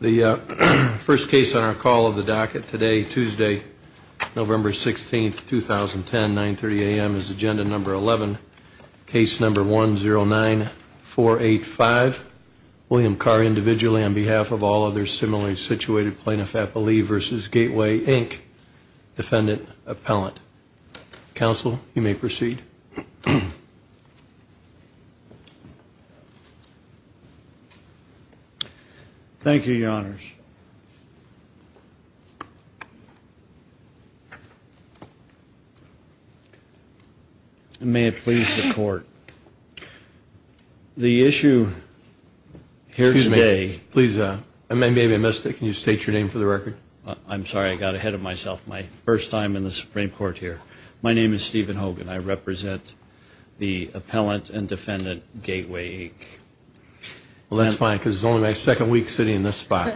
The first case on our call of the docket today, Tuesday, November 16, 2010, 930 a.m. is agenda number 11, case number 109485. William Carr, individually, on behalf of all other similarly situated plaintiff-appellee v. Gateway, Inc., defendant-appellant. Counsel, you may proceed. Thank you, Your Honors. And may it please the Court, the issue here today... Excuse me. Please, I may have missed it. Can you state your name for the record? I'm sorry. I got ahead of myself my first time in the Supreme Court here. My name is Stephen Hogan. I represent the appellant and defendant, Gateway, Inc. Well, that's fine, because it's only my second week sitting in this spot.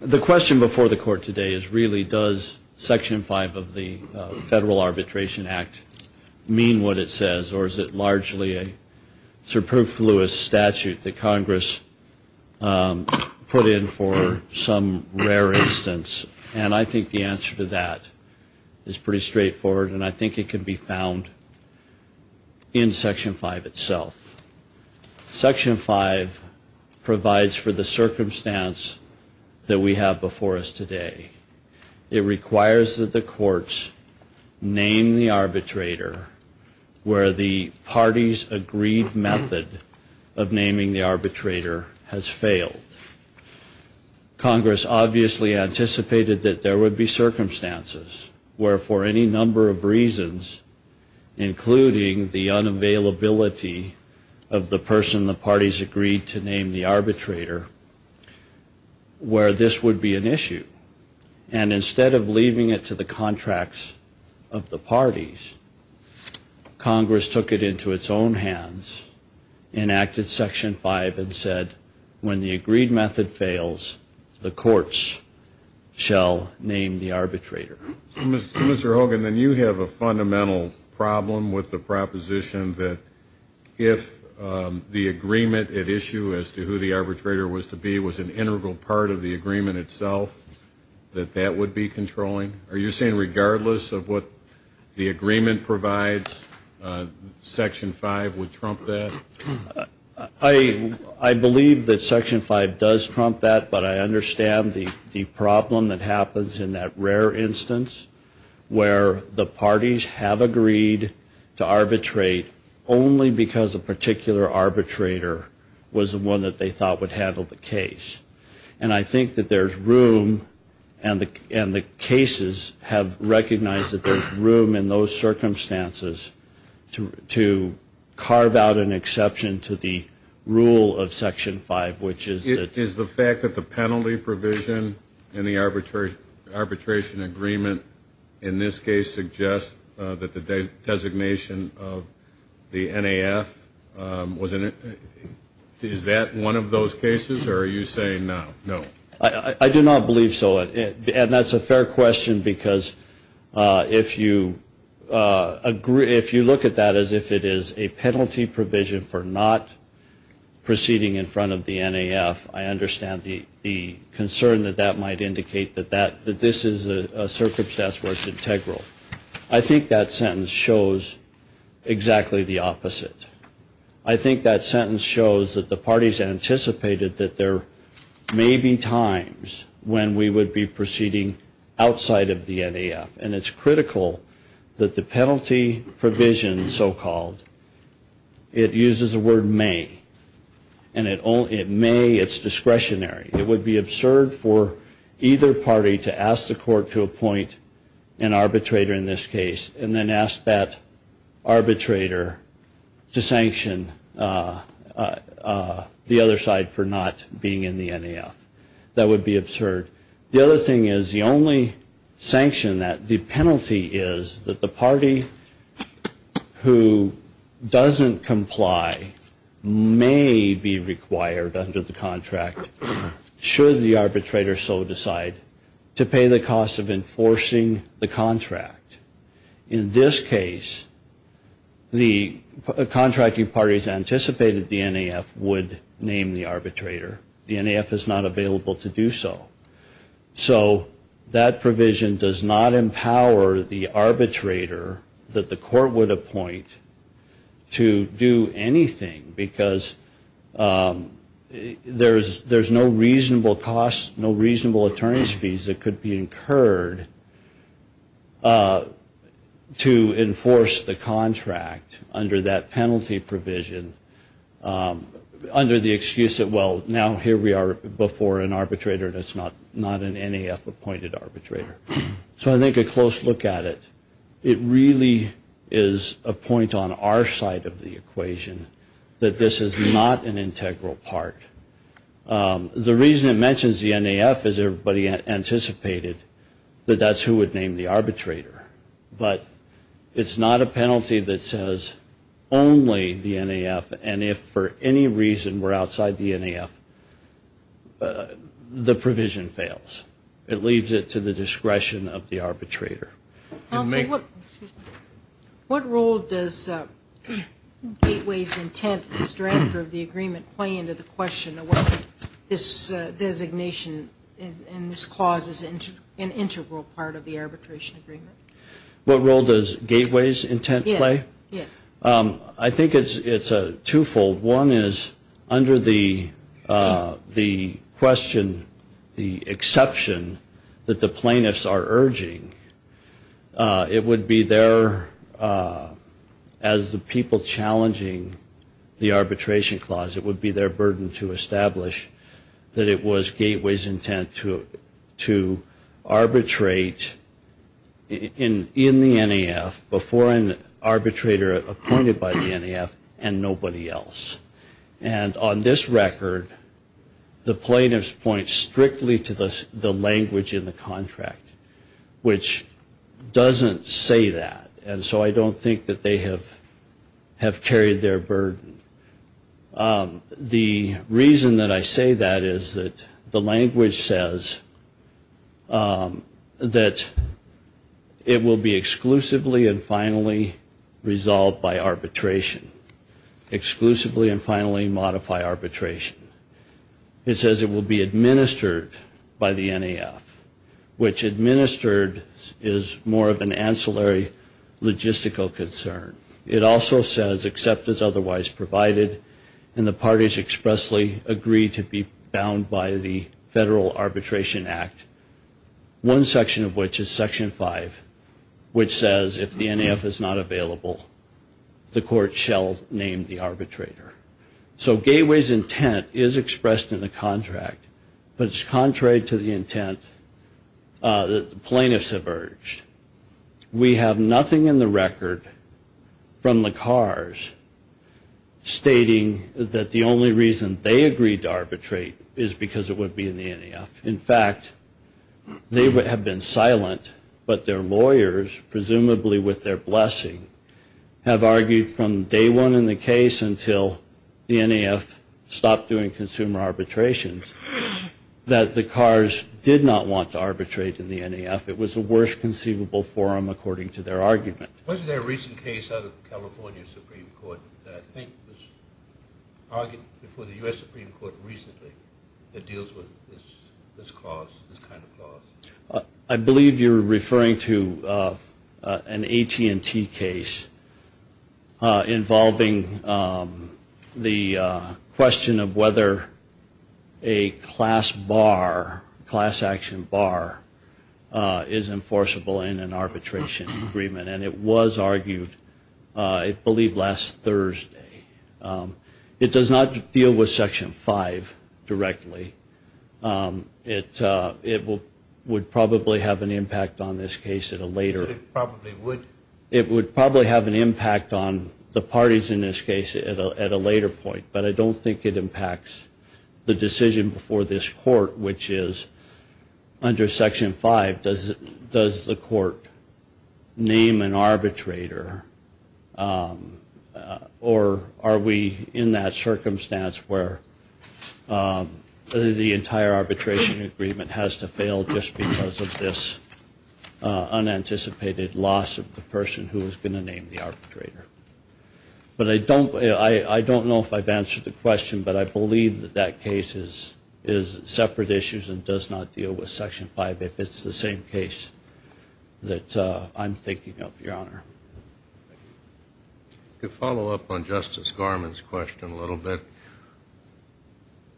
The question before the Court today is, really, does Section 5 of the Federal Arbitration Act mean what it says, or is it largely a superfluous statute that Congress put in for some rare instance? And I think the answer to that is pretty straightforward, and I think it can be found in Section 5 itself. Section 5 provides for the circumstance that we have before us today. It requires that the courts name the arbitrator where the party's agreed method of naming the arbitrator has failed. Congress obviously anticipated that there would be circumstances where, for any number of reasons, including the unavailability of the person the parties agreed to name the arbitrator, where this would be an issue. And instead of leaving it to the contracts of the parties, Congress took it into its own hands, enacted Section 5, and said, when the agreed method fails, the courts shall name the arbitrator. So, Mr. Hogan, then you have a fundamental problem with the proposition that if the agreement at issue as to who the arbitrator was to be was an integral part of the agreement itself, that that would be controlling? Are you saying regardless of what the agreement provides, Section 5 would trump that? I believe that Section 5 does trump that, but I understand the problem that happens in that rare instance where the parties have agreed to arbitrate only because a particular arbitrator was the one that they thought would handle the case. And I think that there's room, and the cases have recognized that there's room in those circumstances to carve out an exception to the rule of Section 5, which is that... Is the fact that the penalty provision in the arbitration agreement in this case suggests that the designation of the NAF, is that one of those cases, or are you saying no? I do not believe so, and that's a fair question, because if you look at that as if it is a penalty provision for not proceeding in front of the NAF, I understand the concern that that might indicate that this is a circumstance where it's integral. I think that sentence shows exactly the opposite. I think that sentence shows that the parties anticipated that there may be times when we would be proceeding outside of the NAF, and it's critical that the penalty provision, so-called, it uses the word may, and it may, it's discretionary. It would be absurd for either party to ask the court to appoint an arbitrator in this case, and then ask that arbitrator to sanction the other side for not being in the NAF. That would be absurd. The other thing is, the only sanction that the penalty is, that the party who doesn't comply may be required under the contract, should the arbitrator so decide, to pay the cost of enforcing the contract. In this case, the contracting parties anticipated the NAF would name the arbitrator. The NAF is not available to do so. So that provision does not empower the arbitrator that the court would appoint to do anything, because there's no reason for the arbitrator to pay reasonable costs, no reasonable attorney's fees that could be incurred to enforce the contract under that penalty provision, under the excuse that, well, now here we are before an arbitrator that's not an NAF-appointed arbitrator. So I think a close look at it, it really is a point on our side of the equation, that this is not an integral part. The reason it mentions the NAF is everybody anticipated that that's who would name the arbitrator. But it's not a penalty that says only the NAF, and if for any reason we're outside the NAF, the provision fails. It leaves it to the discretion of the arbitrator. Counsel, what role does Gateways' intent as director of the agreement play into the question of whether this designation and this clause is an integral part of the arbitration agreement? What role does Gateways' intent play? I think it's twofold. One is under the question, the exception that the plaintiffs are urging, it would be their, as the people challenging the arbitration clause, it would be their burden to establish that it was Gateways' intent to arbitrate in the NAF before an arbitrator appointed by the NAF and nobody else. And on this record, the plaintiffs point strictly to the language in the contract, which doesn't say that, and so I don't think that they have carried their burden. The reason that I say that is that the language says that it will be exclusively and finally resolved by arbitration, exclusively and finally modify arbitration. It says it will be administered by the NAF, which administered is more of an ancillary logistical concern. It also says, except as otherwise provided, and the parties expressly agree to be bound by the Federal Arbitration Act, one section of which is Section 5, which says if the NAF is not available, the court shall name the arbitrator. So Gateways' intent is expressed in the contract, but it's contrary to the intent that the plaintiffs have urged. We have nothing in the record from the Carrs stating that the only reason they agreed to arbitrate is because it would be in the NAF. In fact, they have been silent, but their lawyers, presumably with their blessing, have argued from day one in the case until the NAF stopped doing consumer arbitrations, that the Carrs did not want to arbitrate in the NAF. It was the worst conceivable forum, according to their argument. Was there a recent case out of California Supreme Court that I think was argued before the U.S. Supreme Court recently that deals with this cause, this kind of clause? I believe you're referring to an AT&T case involving the question of whether a class bar, class action bar, is enforceable in an arbitration agreement. And it was argued, I believe, last Thursday. It does not deal with Section 5 directly. It would probably have an impact on this case at a later... It would probably have an impact on the parties in this case at a later point, but I don't think it impacts the decision before this court, which is under Section 5, does the court name an arbitrator, or are we in that circumstance where the entire arbitration agreement has to fail just because of this unanticipated loss of the person who is going to name the arbitrator? But I don't know if I've answered the question, but I believe that that case is separate issues and does not deal with Section 5, if it's the same case that I'm thinking of, Your Honor. To follow up on Justice Garmon's question a little bit,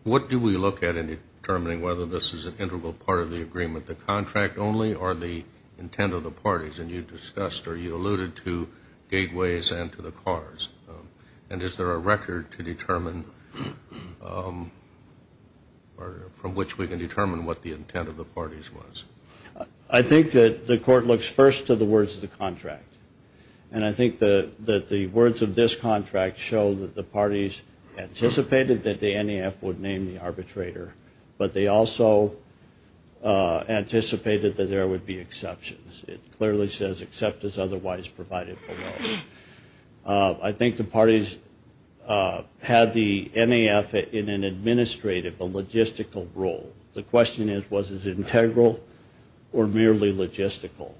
what do we look at in determining whether this is an integral part of the agreement, the contract only, or the intent of the parties? And you discussed or you alluded to gateways and to the cars. And is there a record to determine, or from which we can determine what the intent of the parties was? I think that the court looks first to the words of the contract. And I think that the words of this contract show that the parties anticipated that the NEF would name the arbitrator, but they also anticipated that there would be exceptions. It clearly says, except as otherwise provided below. I think the parties had the NEF in an administrative, a logistical role. The question is, was it integral or merely logistical?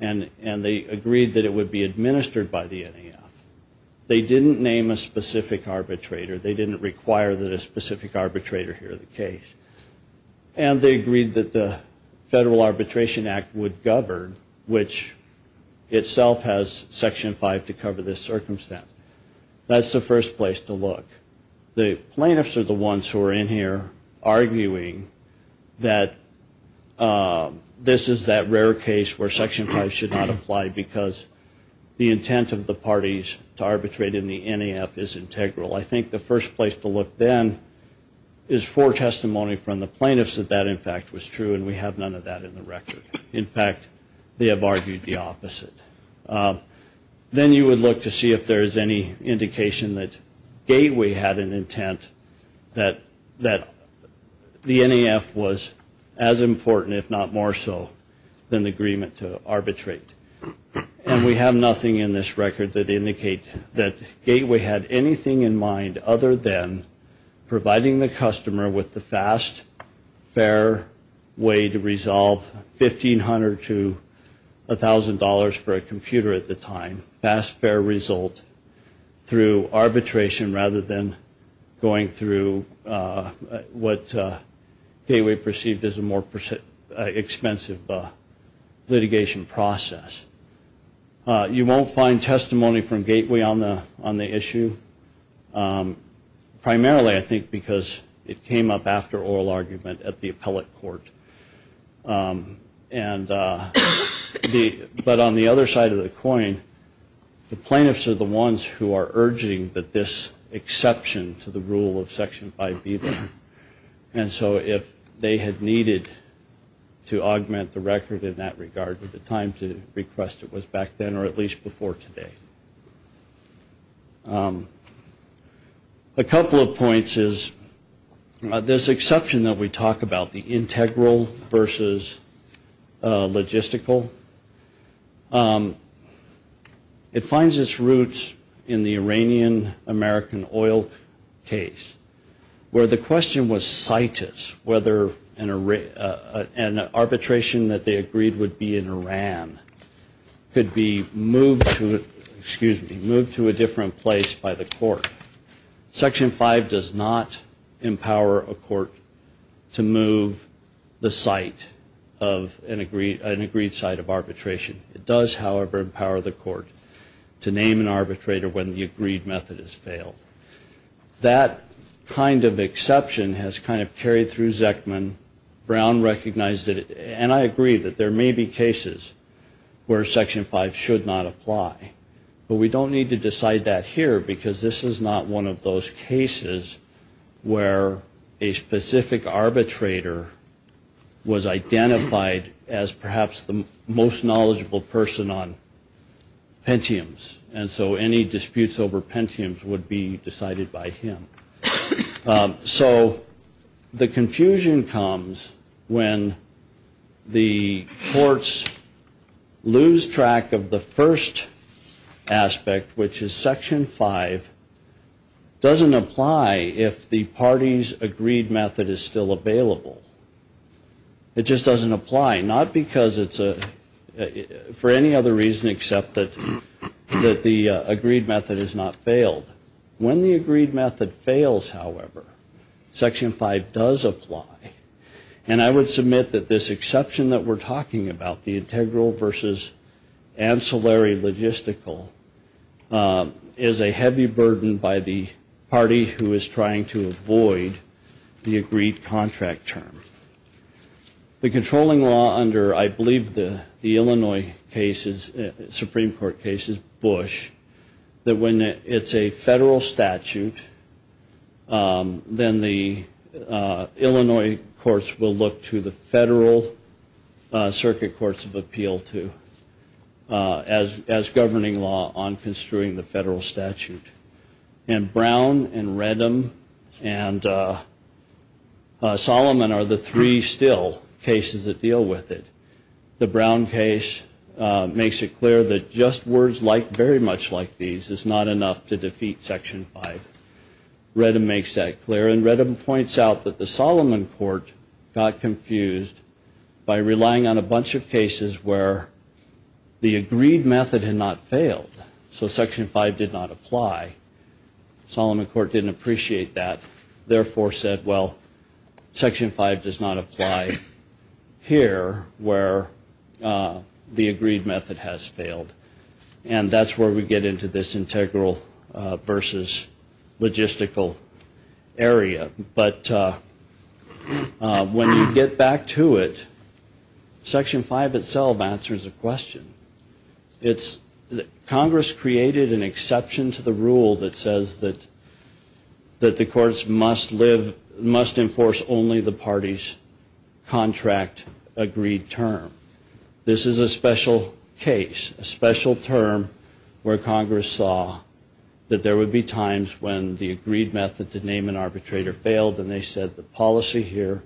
And they agreed that it would be administered by the NEF. They didn't name a specific arbitrator. They didn't require that a specific arbitrator hear the case. And they agreed that the Federal Arbitration Act would govern, which itself has Section 5 to cover this circumstance. That's the first place to look. The plaintiffs are the ones who are in here arguing that this is that rare case where Section 5 should not apply, because the intent of the parties to arbitrate in the NEF is integral. I think the first place to look then is for testimony from the plaintiffs that that, in fact, was true, and we have none of that in the record. In fact, they have argued the opposite. Then you would look to see if there is any indication that Gateway had an intent that the NEF was as important, if not more so, than the agreement to arbitrate. And we have nothing in this record that indicates that Gateway had anything in mind other than providing the customer with the fast, fair way to resolve $1,500 to $1,000 for arbitration. And that was done over a computer at the time, fast, fair result, through arbitration rather than going through what Gateway perceived as a more expensive litigation process. You won't find testimony from Gateway on the issue, primarily, I think, because it came up after oral argument at the appellate court. But on the other side of the coin, the plaintiffs are the ones who are urging that this exception to the rule of Section 5B, and so if they had needed to augment the record in that regard at the time to request it was back then, or at least before today. A couple of points is this exception that we talk about, the integral versus logistical, it finds its roots in the Iranian-American oil case, where the question was cited, whether an arbitration that they agreed would be in Iran could be moved to Iran, excuse me, moved to a different place by the court. Section 5 does not empower a court to move the site of an agreed site of arbitration. It does, however, empower the court to name an arbitrator when the agreed method has failed. That kind of exception has kind of carried through Zeckman. Brown recognized it, and I agree that there may be cases where Section 5 should not apply, but we don't need to decide that here because this is not one of those cases where a specific arbitrator was identified as perhaps the most knowledgeable person on Pentiums, and so any disputes over Pentiums would be decided by him. So the confusion comes when the courts lose track of the first aspect, which is Section 5 doesn't apply if the party's agreed method is still available. It just doesn't apply, not because it's for any other reason except that the agreed method has not failed. When the agreed method fails, however, Section 5 does apply, and I would submit that this exception that we're talking about, the integral versus ancillary logistical, is a heavy burden by the party who is trying to avoid the agreed contract term. The controlling law under, I believe, the Illinois cases, Supreme Court cases, Bush, that when it's a federal statute, then the Illinois courts will look to the federal circuit courts of appeal as governing law on construing the federal statute. And Brown and Reddam and Solomon are the three still cases that deal with it. The Brown case makes it clear that just words like very much like these is not enough to defeat Section 5. Reddam makes that clear, and Reddam points out that the Solomon court got confused by relying on a bunch of cases where the agreed method had not failed, so Section 5 did not apply. Solomon court didn't appreciate that, therefore said, well, Section 5 does not apply here, where the agreed method has failed. And that's where we get into this integral versus logistical area. But when you get back to it, Section 5 itself answers the question. Congress created an exception to the rule that says that the courts must live, must enforce only the party's contract agreed term. This is a special case, a special term where Congress saw that there would be times when the agreed method to name an arbitrator failed, and they said the policy here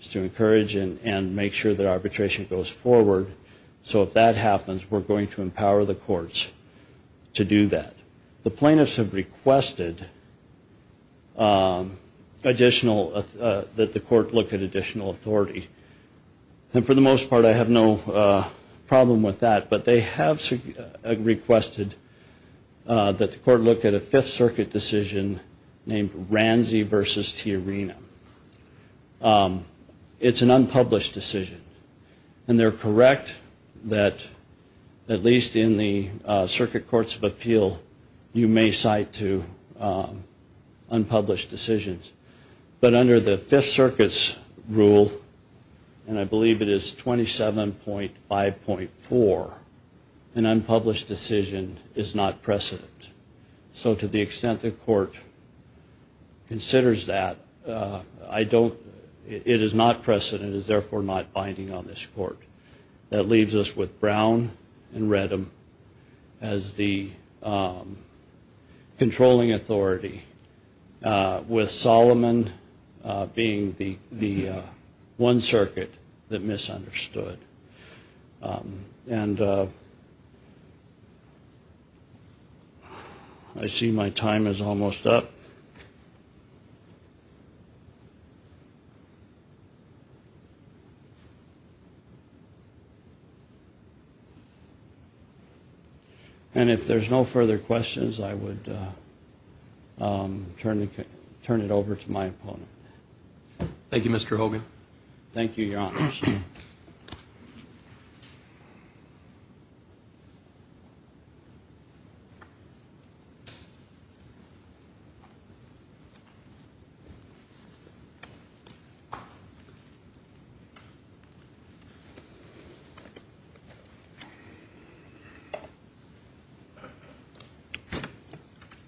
is to encourage and make sure that arbitration goes forward. So if that happens, we're going to empower the courts to do that. The plaintiffs have requested additional, that the court look at additional authority. And for the most part, I have no problem with that. But they have requested that the court look at a Fifth Circuit decision named Ranzi versus Tiarina. It's an unpublished decision, and they're correct that at least in the Circuit Courts of Appeal, you may cite to unpublished decisions. But under the Fifth Circuit's rule, and I believe it is 27.5.4, an unpublished decision is not precedent. So to the extent the court considers that, I don't, it is not precedent, it is therefore not binding on this court. That leaves us with Brown and Redham as the controlling authority, with Solomon being the one circuit that misunderstood. And I see my time is almost up. And if there's no further questions, I would turn it over to my opponent. Thank you, Mr. Hogan.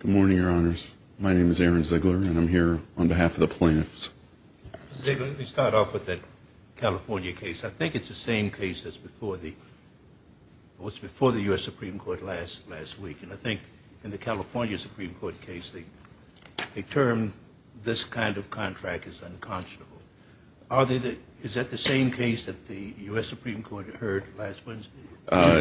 Good morning, Your Honors. My name is Aaron Ziegler, and I'm here on behalf of the plaintiffs. Ziegler, let me start off with that California case. I think it's the same case that was before the U.S. Supreme Court last week. And I think in the California Supreme Court case, a term this kind of contract is unconscionable. Is that the same case that the U.S. Supreme Court heard last Wednesday?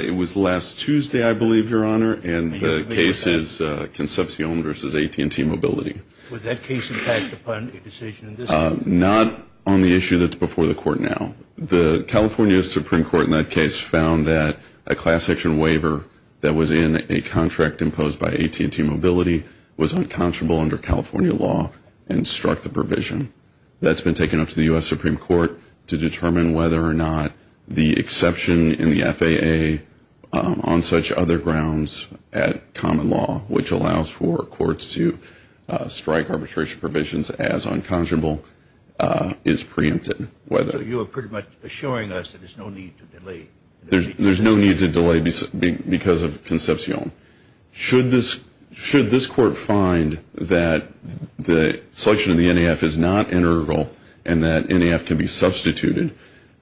It was last Tuesday, I believe, Your Honor, and the case is Concepcion versus AT&T Mobility. Would that case impact upon a decision in this court? Not on the issue that's before the court now. The California Supreme Court in that case found that a class action waiver that was in a contract imposed by AT&T Mobility was unconscionable under California law and struck the provision. That's been taken up to the U.S. Supreme Court to determine whether or not the exception in the FAA on such other grounds at common law, which allows for courts to strike arbitration provisions as unconscionable, is preempted. There's no need to delay because of Concepcion. Should this court find that the selection of the NAF is not integral and that NAF can be substituted,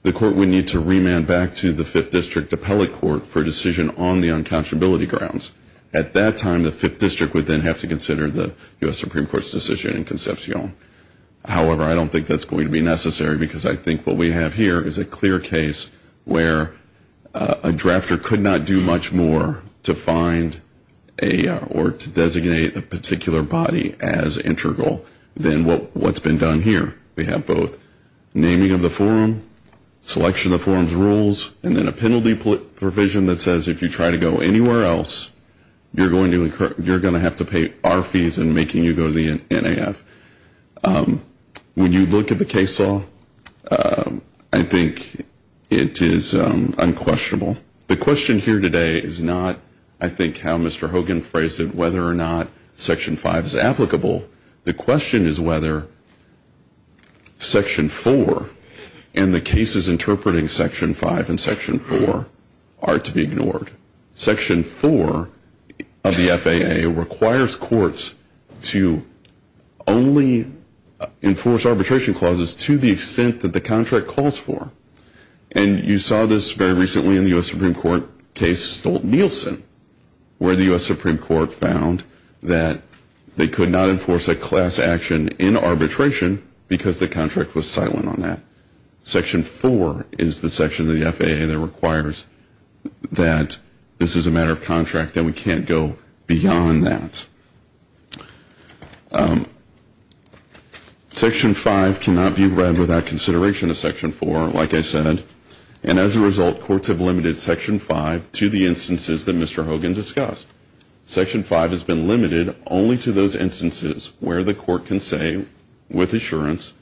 the court would need to remand back to the Fifth District Appellate Court for a decision on the unconscionability grounds. At that time, the Fifth District would then have to consider the U.S. Supreme Court's decision in Concepcion. However, I don't think that's going to be necessary because I think what we have here is a clear case where a drafter could not do much more to find or to designate a particular body as integral than what's been done here. We have both naming of the forum, selection of the forum's rules, and then a penalty provision that says if you try to go anywhere else, you're going to have to pay our fees in making you go to the NAF. When you look at the case law, I think it is unquestionable. The question here today is not, I think, how Mr. Hogan phrased it, whether or not Section 5 is applicable. The question is whether Section 4 and the cases interpreting Section 5 and Section 4 are to be ignored. Section 4 of the FAA requires courts to only enforce arbitration clauses to the extent that the contract calls for. And you saw this very recently in the U.S. Supreme Court case Stolt-Nielsen, where the U.S. Supreme Court found that they could not enforce a class action in arbitration because the contract was silent on that. Section 4 is the section of the FAA that requires that this is a matter of contract, that we can't go beyond that. Section 5 cannot be read without consideration of Section 4, like I said, and as a result, courts have limited Section 5 to the instances that Mr. Hogan discussed. Section 5 has been limited only to those instances where the court can say with assurance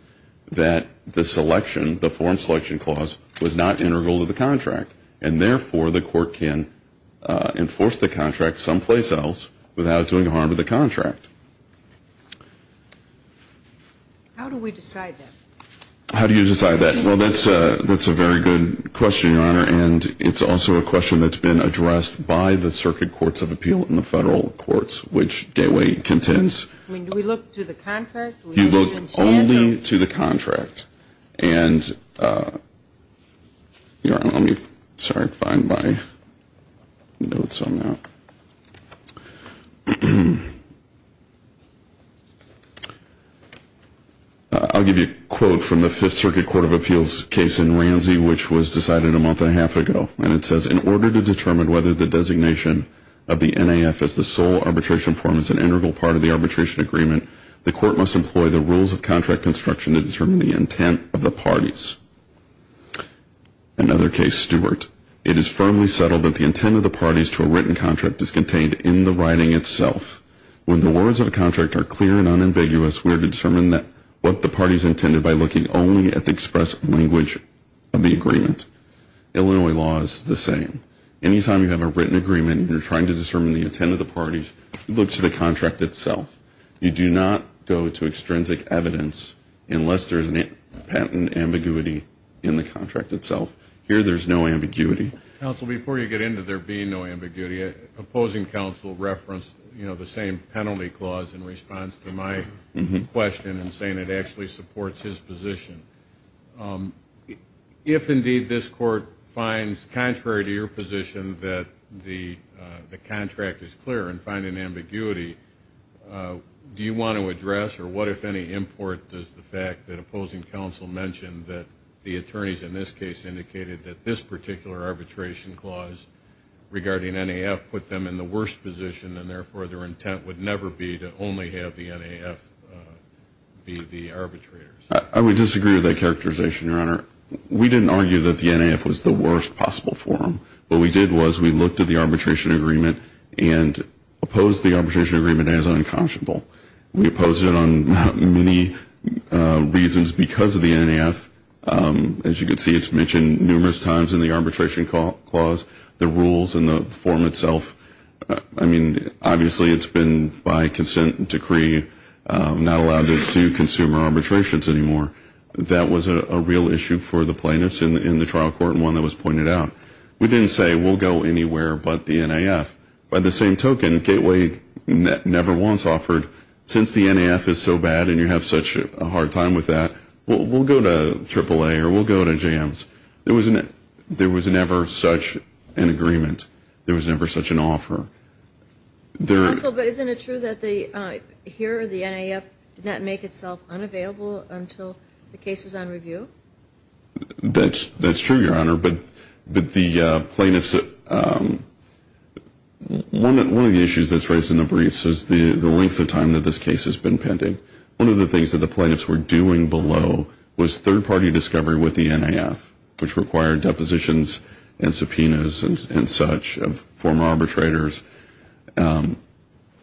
that the selection, the foreign selection clause, was not integral to the contract. And therefore, the court can enforce the contract someplace else without doing harm to the contract. How do we decide that? How do you decide that? Well, that's a very good question, Your Honor, and it's also a question that's been addressed by the Circuit Courts of Appeal and the Federal Courts, which Gateway contends. I mean, do we look to the contract? This is from the Fifth Circuit Court of Appeals case in Ramsey, which was decided a month and a half ago, and it says, in order to determine whether the designation of the NAF as the sole arbitration form is an integral part of the arbitration agreement, the court must employ the rules of contract construction to determine the intent of the parties. Another case, Stewart. It is firmly settled that the intent of the parties to a written contract is contained in the writing itself. When the words of a contract are clear and unambiguous, we are to determine what the parties intended by looking only at the express language of the agreement. Illinois law is the same. Anytime you have a written agreement and you're trying to determine the intent of the parties, you look to the contract itself. You do not go to extrinsic evidence unless there is an ambiguity in the contract itself. Here, there's no ambiguity. Counsel, before you get into there being no ambiguity, opposing counsel referenced the same penalty clause in response to my question and saying it actually supports his position. If, indeed, this court finds, contrary to your position, that the contract is clear and finding ambiguity, do you want to address, or what, if any, import does the fact that opposing counsel mentioned that the attorneys in this case indicated that this particular arbitration clause regarding NAF put them in the worst position and, therefore, their intent would never be to only have the NAF be the arbitrators? I would disagree with that characterization, Your Honor. We didn't argue that the NAF was the worst possible forum. What we did was we looked at the arbitration agreement and opposed the arbitration agreement as unconscionable. We opposed it on many reasons because of the NAF. As you can see, it's mentioned numerous times in the arbitration clause, the rules and the form itself. I mean, obviously, it's been by consent decree not allowed to do consumer arbitrations anymore. That was a real issue for the plaintiffs in the trial court and one that was pointed out. We didn't say we'll go anywhere but the NAF. By the same token, Gateway never once offered, since the NAF is so bad and you have such a hard time with that, we'll go to AAA or we'll go to JAMS. There was never such an agreement. There was never such an offer. Counsel, but isn't it true that here the NAF did not make itself unavailable until the case was on review? That's true, Your Honor. One of the issues that's raised in the briefs is the length of time that this case has been pending. One of the things that the plaintiffs were doing below was third-party discovery with the NAF, which required depositions and subpoenas and such of former arbitrators.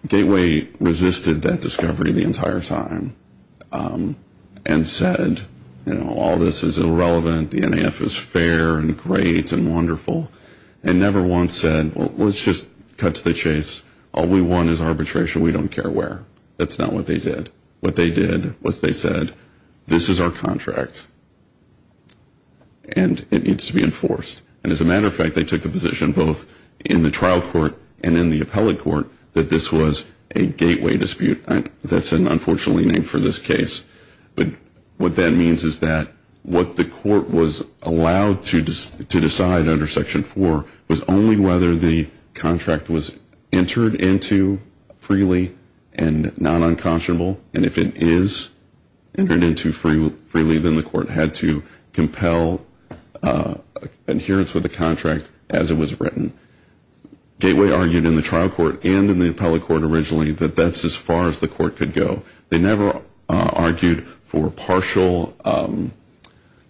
Gateway resisted that discovery the entire time and said, you know, all this is irrelevant. The NAF is fair and great and wonderful and never once said, well, let's just cut to the chase. All we want is arbitration. We don't care where. That's not what they did. What they did was they said, this is our contract and it needs to be enforced. And as a matter of fact, they took the position both in the trial court and in the appellate court that this was a gateway dispute. That's an unfortunately name for this case. But what that means is that what the court was allowed to decide under Section 4 was only whether the contract was entered into freely and not unconscionable. And if it is entered into freely, then the court had to compel adherence with the contract as it was written. Gateway argued in the trial court and in the appellate court originally that that's as far as the court could go. They never argued for partial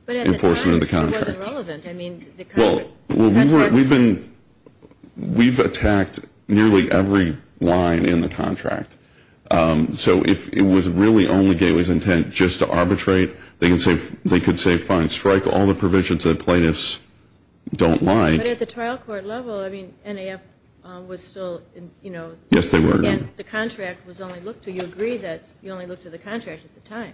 enforcement of the contract. We've attacked nearly every line in the contract. So if it was really only gateway's intent just to arbitrate, they could say fine, strike all the provisions that plaintiffs don't like. But at the trial court level, I mean, NAF was still, you know. Yes, they were. And the contract was only looked to. You agree that you only looked to the contract at the time.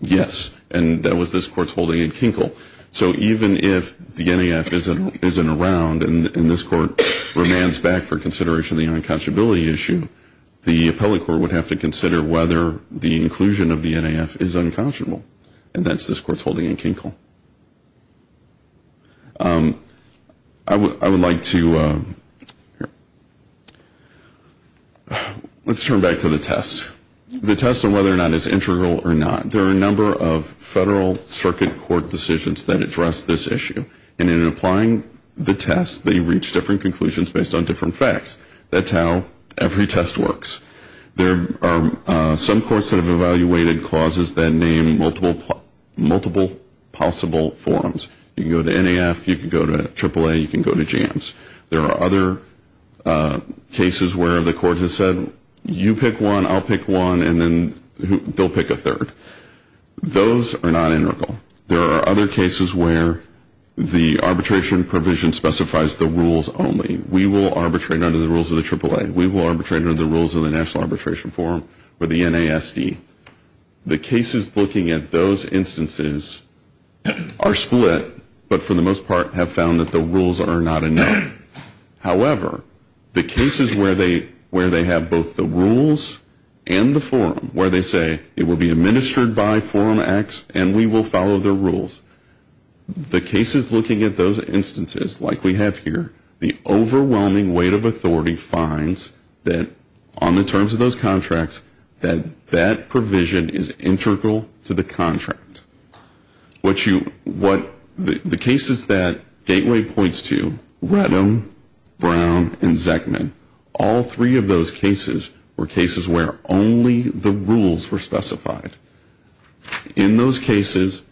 Yes. And that was this court's holding in Kinkle. So even if the NAF isn't around and this court remands back for consideration of the unconscionability issue, the appellate court would have to consider whether the inclusion of the NAF is unconscionable. And that's this court's holding in Kinkle. I would like to, let's turn back to the test. The test on whether or not it's integral or not. There are a number of federal circuit court decisions that address this issue. And in applying the test, they reach different conclusions based on different facts. That's how every test works. There are some courts that have evaluated clauses that name multiple possible forms. You can go to NAF, you can go to AAA, you can go to JAMS. There are other cases where the court has said you pick one, I'll pick one, and then they'll pick a third. Those are not integral. There are other cases where the arbitration provision specifies the rules only. We will arbitrate under the rules of the AAA. We will arbitrate under the rules of the National Arbitration Forum or the NASD. The cases looking at those instances are split, but for the most part have found that the rules are not enough. However, the cases where they have both the rules and the forum, where they say it will be administered by Forum X and we will follow the rules. The cases looking at those instances, like we have here, the overwhelming weight of authority finds that on the terms of those contracts, that that provision is integral to the contract. The cases that Gateway points to, Rettum, Brown, and Zekman, all three of those cases were cases where only the rules were specified. In those cases,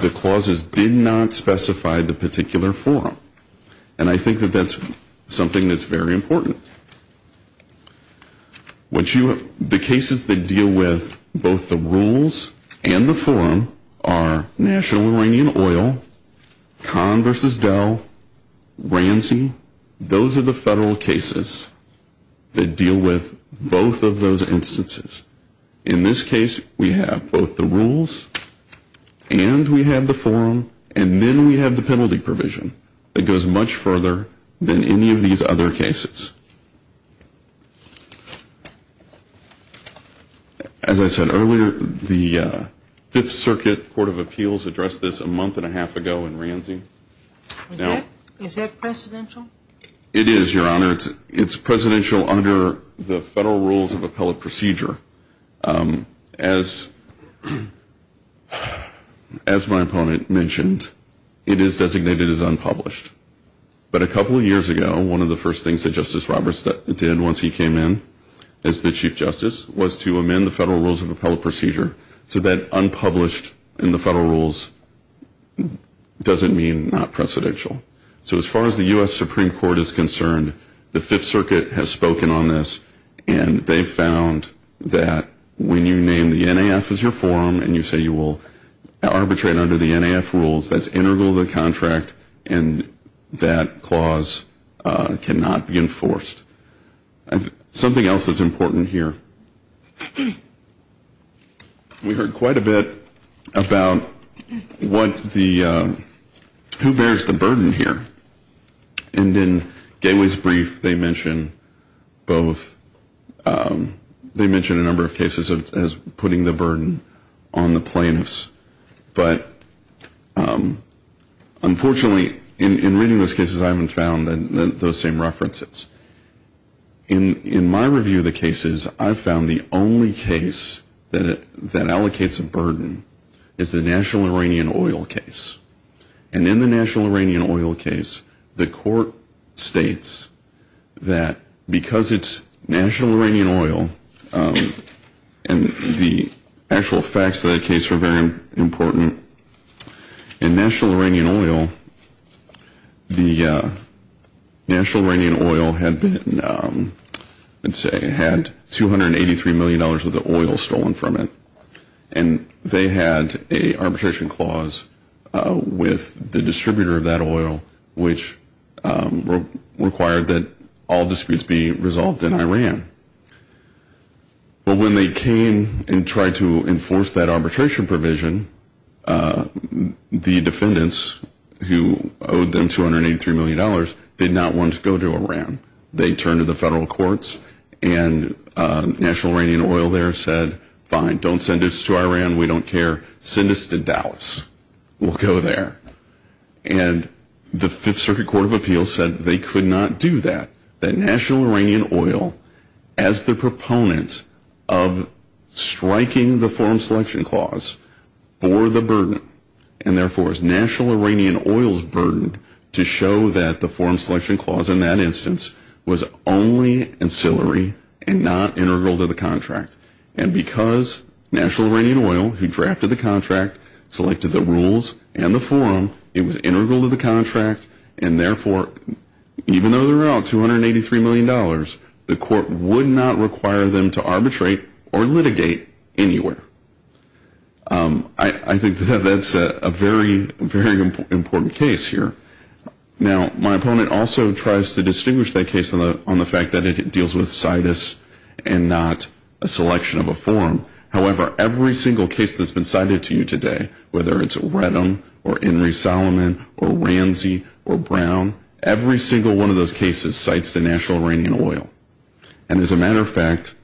the clauses did not specify the particular forum, and I think that that's something that's very important. The cases that deal with both the rules and the forum are National Iranian Oil, Conn v. Dell, RANSI. Those are the federal cases that deal with both of those instances. In this case, we have both the rules and we have the forum, and then we have the penalty provision that goes much further than any of these other cases. As I said earlier, the Fifth Circuit Court of Appeals addressed this a month and a half ago in RANSI. Is that presidential? It is, Your Honor. It's presidential under the Federal Rules of Appellate Procedure. As my opponent mentioned, it is designated as unpublished. But a couple of years ago, one of the first things that Justice Roberts did once he came in as the Chief Justice was to amend the Federal Rules of Appellate Procedure, so that unpublished in the Federal Rules doesn't mean not presidential. So as far as the U.S. Supreme Court is concerned, the Fifth Circuit has spoken on this, and they found that when you name the NAF as your forum and you say you will arbitrate under the NAF rules, that's integral to the contract and that clause cannot be enforced. Something else that's important here. We heard quite a bit about who bears the burden here. And in Gateway's brief, they mention a number of cases as putting the burden on the plaintiffs. But unfortunately, in reading those cases, I haven't found those same references. In my review of the cases, I've found the only case that allocates a burden is the National Iranian Oil case. And in the National Iranian Oil case, the court states that because it's National Iranian Oil, and the actual facts of that case are very important. In National Iranian Oil, the National Iranian Oil had $283 million worth of oil stolen from it. And they had an arbitration clause with the distributor of that oil, which required that all disputes be resolved in Iran. But when they came and tried to enforce that arbitration provision, the defendants who owed them $283 million did not want to go to Iran. They turned to the federal courts, and National Iranian Oil there said, fine, don't send us to Iran, we don't care, send us to Dallas, we'll go there. And the Fifth Circuit Court of Appeals said they could not do that, that National Iranian Oil, as the proponent of striking the forum selection clause, bore the burden. And therefore, it's National Iranian Oil's burden to show that the forum selection clause in that instance was only ancillary and not integral to the contract. And because National Iranian Oil, who drafted the contract, selected the rules and the forum, it was integral to the contract, and therefore, even though they're out $283 million, the court would not require them to arbitrate or litigate anywhere. I think that's a very, very important case here. Now, my opponent also tries to distinguish that case on the fact that it deals with situs and not a selection of a forum. However, every single case that's been cited to you today, whether it's Redham or Henry Solomon or Ramsey or Brown, every single one of those cases cites the National Iranian Oil. And as a matter of fact,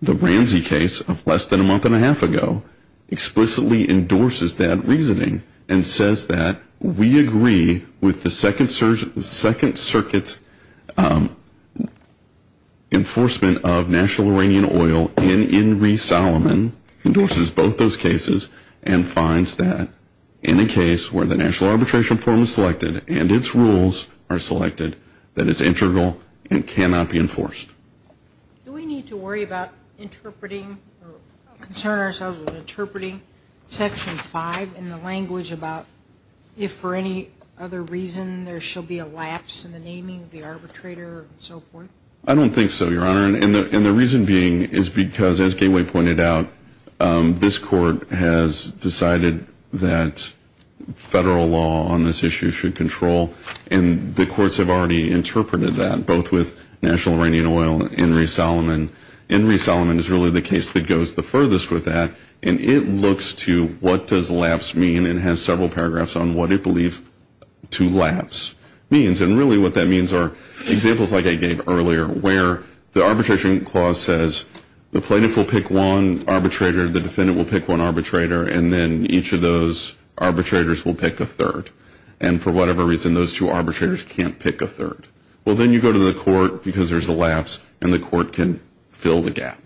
the Ramsey case of less than a month and a half ago explicitly endorses that reasoning and says that we agree with the Second Circuit's enforcement of National Iranian Oil and Henry Solomon, endorses both those cases and finds that in a case where the National Arbitration Forum is selected and its rules are selected, that it's integral and cannot be enforced. Do we need to worry about interpreting or concern ourselves with interpreting Section 5 in the language about if for any other reason there shall be a lapse in the naming of the arbitrator and so forth? I don't think so, Your Honor, and the reason being is because, as Gateway pointed out, this court has decided that federal law on this issue should control, and the courts have already interpreted that, both with National Iranian Oil and Henry Solomon. Henry Solomon is really the case that goes the furthest with that, and it looks to what does lapse mean and has several paragraphs on what it believes to lapse means. And really what that means are examples like I gave earlier where the arbitration clause says the plaintiff will pick one arbitrator, the defendant will pick one arbitrator, and then each of those arbitrators will pick a third. And for whatever reason, those two arbitrators can't pick a third. Well, then you go to the court because there's a lapse, and the court can fill the gap.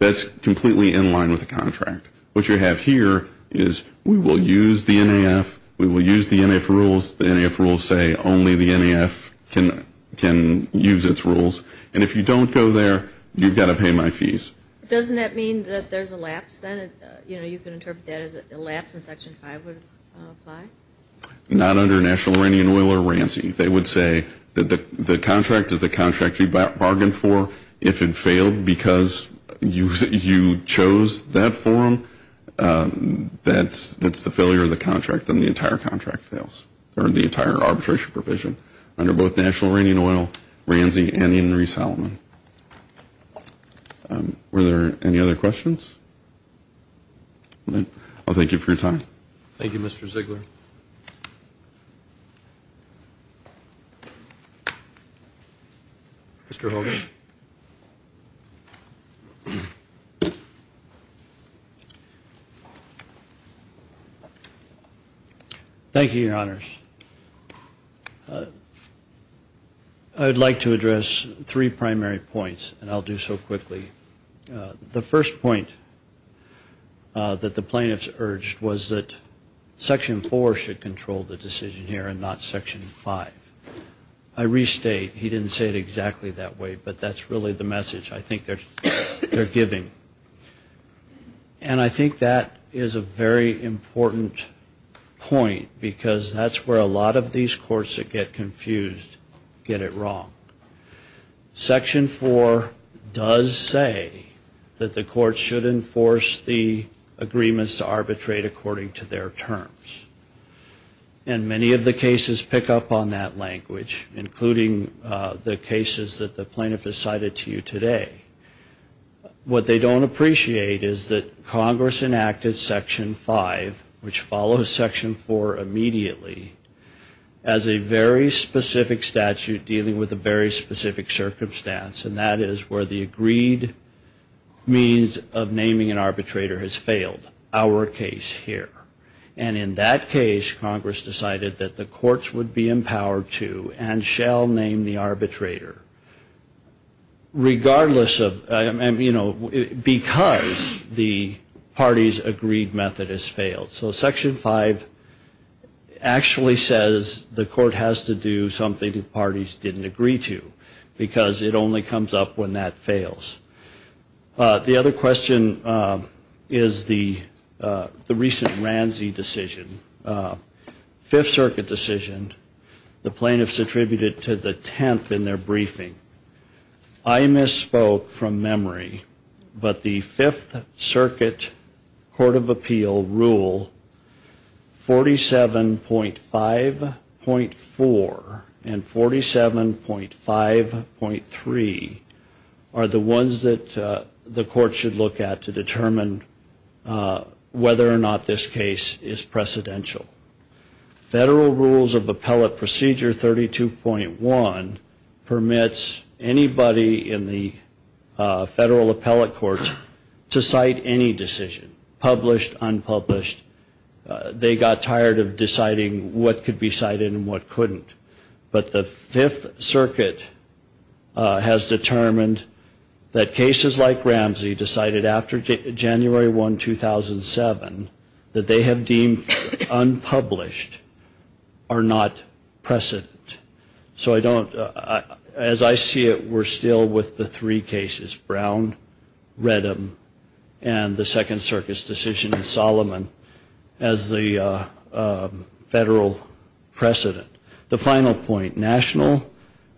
That's completely in line with the contract. What you have here is we will use the NAF, we will use the NAF rules. The NAF rules say only the NAF can use its rules. And if you don't go there, you've got to pay my fees. Doesn't that mean that there's a lapse then? You know, you can interpret that as a lapse in Section 5 would apply? Not under National Iranian Oil or RANSI. They would say that the contract is the contract you bargained for. If it failed because you chose that forum, that's the failure of the contract and the entire contract fails, or the entire arbitration provision under both National Iranian Oil, RANSI, and Henry Solomon. Were there any other questions? I'll thank you for your time. Thank you, Mr. Ziegler. Mr. Hogan. Thank you, Your Honors. I would like to address three primary points, and I'll do so quickly. The first point that the plaintiffs urged was that Section 4 should control the decision here and not Section 5. I restate, he didn't say it exactly that way, but that's really the message I think they're giving. And I think that is a very important point because that's where a lot of these courts that get confused get it wrong. Section 4 does say that the court should enforce the agreements to arbitrate according to their terms. And many of the cases pick up on that language, including the cases that the plaintiff has cited to you today. What they don't appreciate is that Congress enacted Section 5, which follows Section 4 immediately, as a very specific statute dealing with a very specific circumstance. And that is where the agreed means of naming an arbitrator has failed, our case here. And in that case, Congress decided that the courts would be empowered to and shall name the arbitrator, regardless of, you know, because the party's agreed method has failed. So Section 5 actually says the court has to do something the parties didn't agree to, because it only comes up when that fails. The other question is the recent Ramsey decision, Fifth Circuit decision. The plaintiffs attributed it to the 10th in their briefing. I misspoke from memory, but the Fifth Circuit Court of Appeal Rule 47.5.4 and 47.5.3 are the ones that the court should look at to determine whether or not this case is precedential. Federal Rules of Appellate Procedure 32.1 permits anybody in the federal appellate courts to cite any decision, published, unpublished. They got tired of deciding what could be cited and what couldn't. But the Fifth Circuit has determined that cases like Ramsey decided after January 1, 2007, that they have deemed unpublished are not precedent. So I don't, as I see it, we're still with the three cases, Brown, Redham, and the Second Circuit's decision in Solomon, as the federal precedent. The final point, national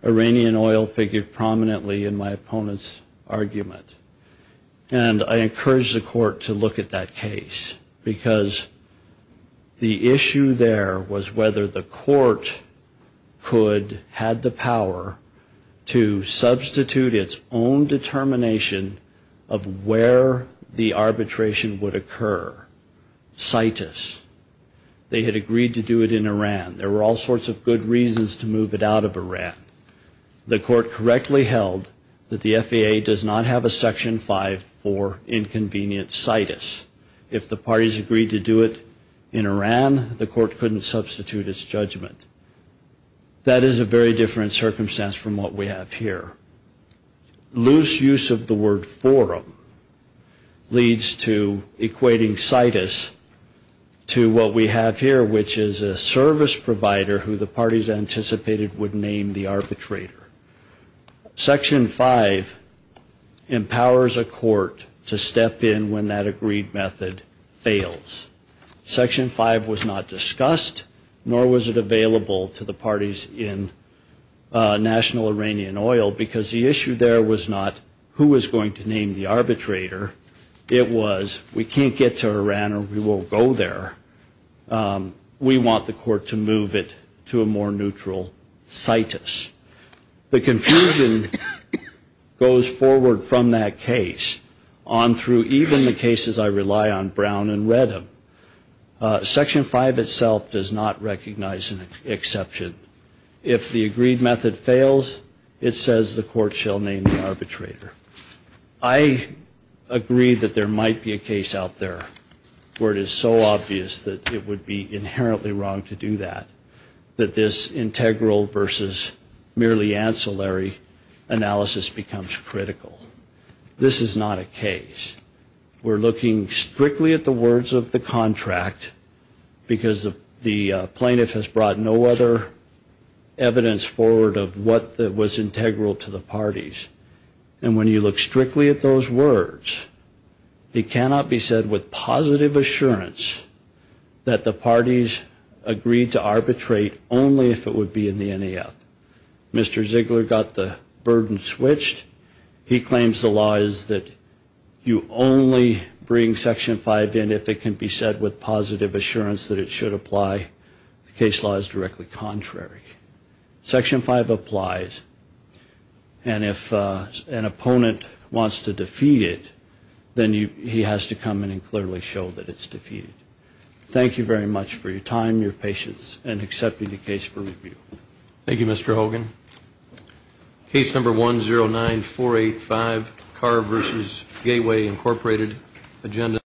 Iranian oil figured prominently in my opponent's argument. And I encourage the court to look at that case, because the issue there was whether the court could have the power to substitute its own determination of where the arbitration would occur, citus. They had agreed to do it in Iran. There were all sorts of good reasons to move it out of Iran. The court correctly held that the FAA does not have a Section 5.4 inconvenience citus. If the parties agreed to do it in Iran, the court couldn't substitute its judgment. That is a very different circumstance from what we have here. Loose use of the word forum leads to equating citus to what we have here, which is a service provider who the parties anticipated would name the arbitrator. Section 5 empowers a court to step in when that agreed method fails. Section 5 was not discussed, nor was it available to the parties in national Iranian oil, because the issue there was not who was going to name the arbitrator. It was, we can't get to Iran, or we won't go there. We want the court to move it to a more neutral citus. The confusion goes forward from that case on through even the cases I rely on, Brown and Redham. Section 5 itself does not recognize an exception. If the agreed method fails, it says the court shall name the arbitrator. I agree that there might be a case out there where it is so obvious that it would be inherently wrong to do that, that this integral versus merely ancillary analysis becomes critical. This is not a case. We're looking strictly at the words of the contract, because the plaintiff has brought no other evidence forward of what was integral to the parties. And when you look strictly at those words, it cannot be said with positive assurance that the parties agreed to arbitrate only if it would be in the NEF. Mr. Ziegler got the burden switched. He claims the law is that you only bring Section 5 in if it can be said with positive assurance that it should apply. The case law is directly contrary. Section 5 applies, and if an opponent wants to defeat it, then he has to come in and clearly show that it's defeated. Thank you very much for your time, your patience, and accepting the case for review. Thank you, Mr. Hogan.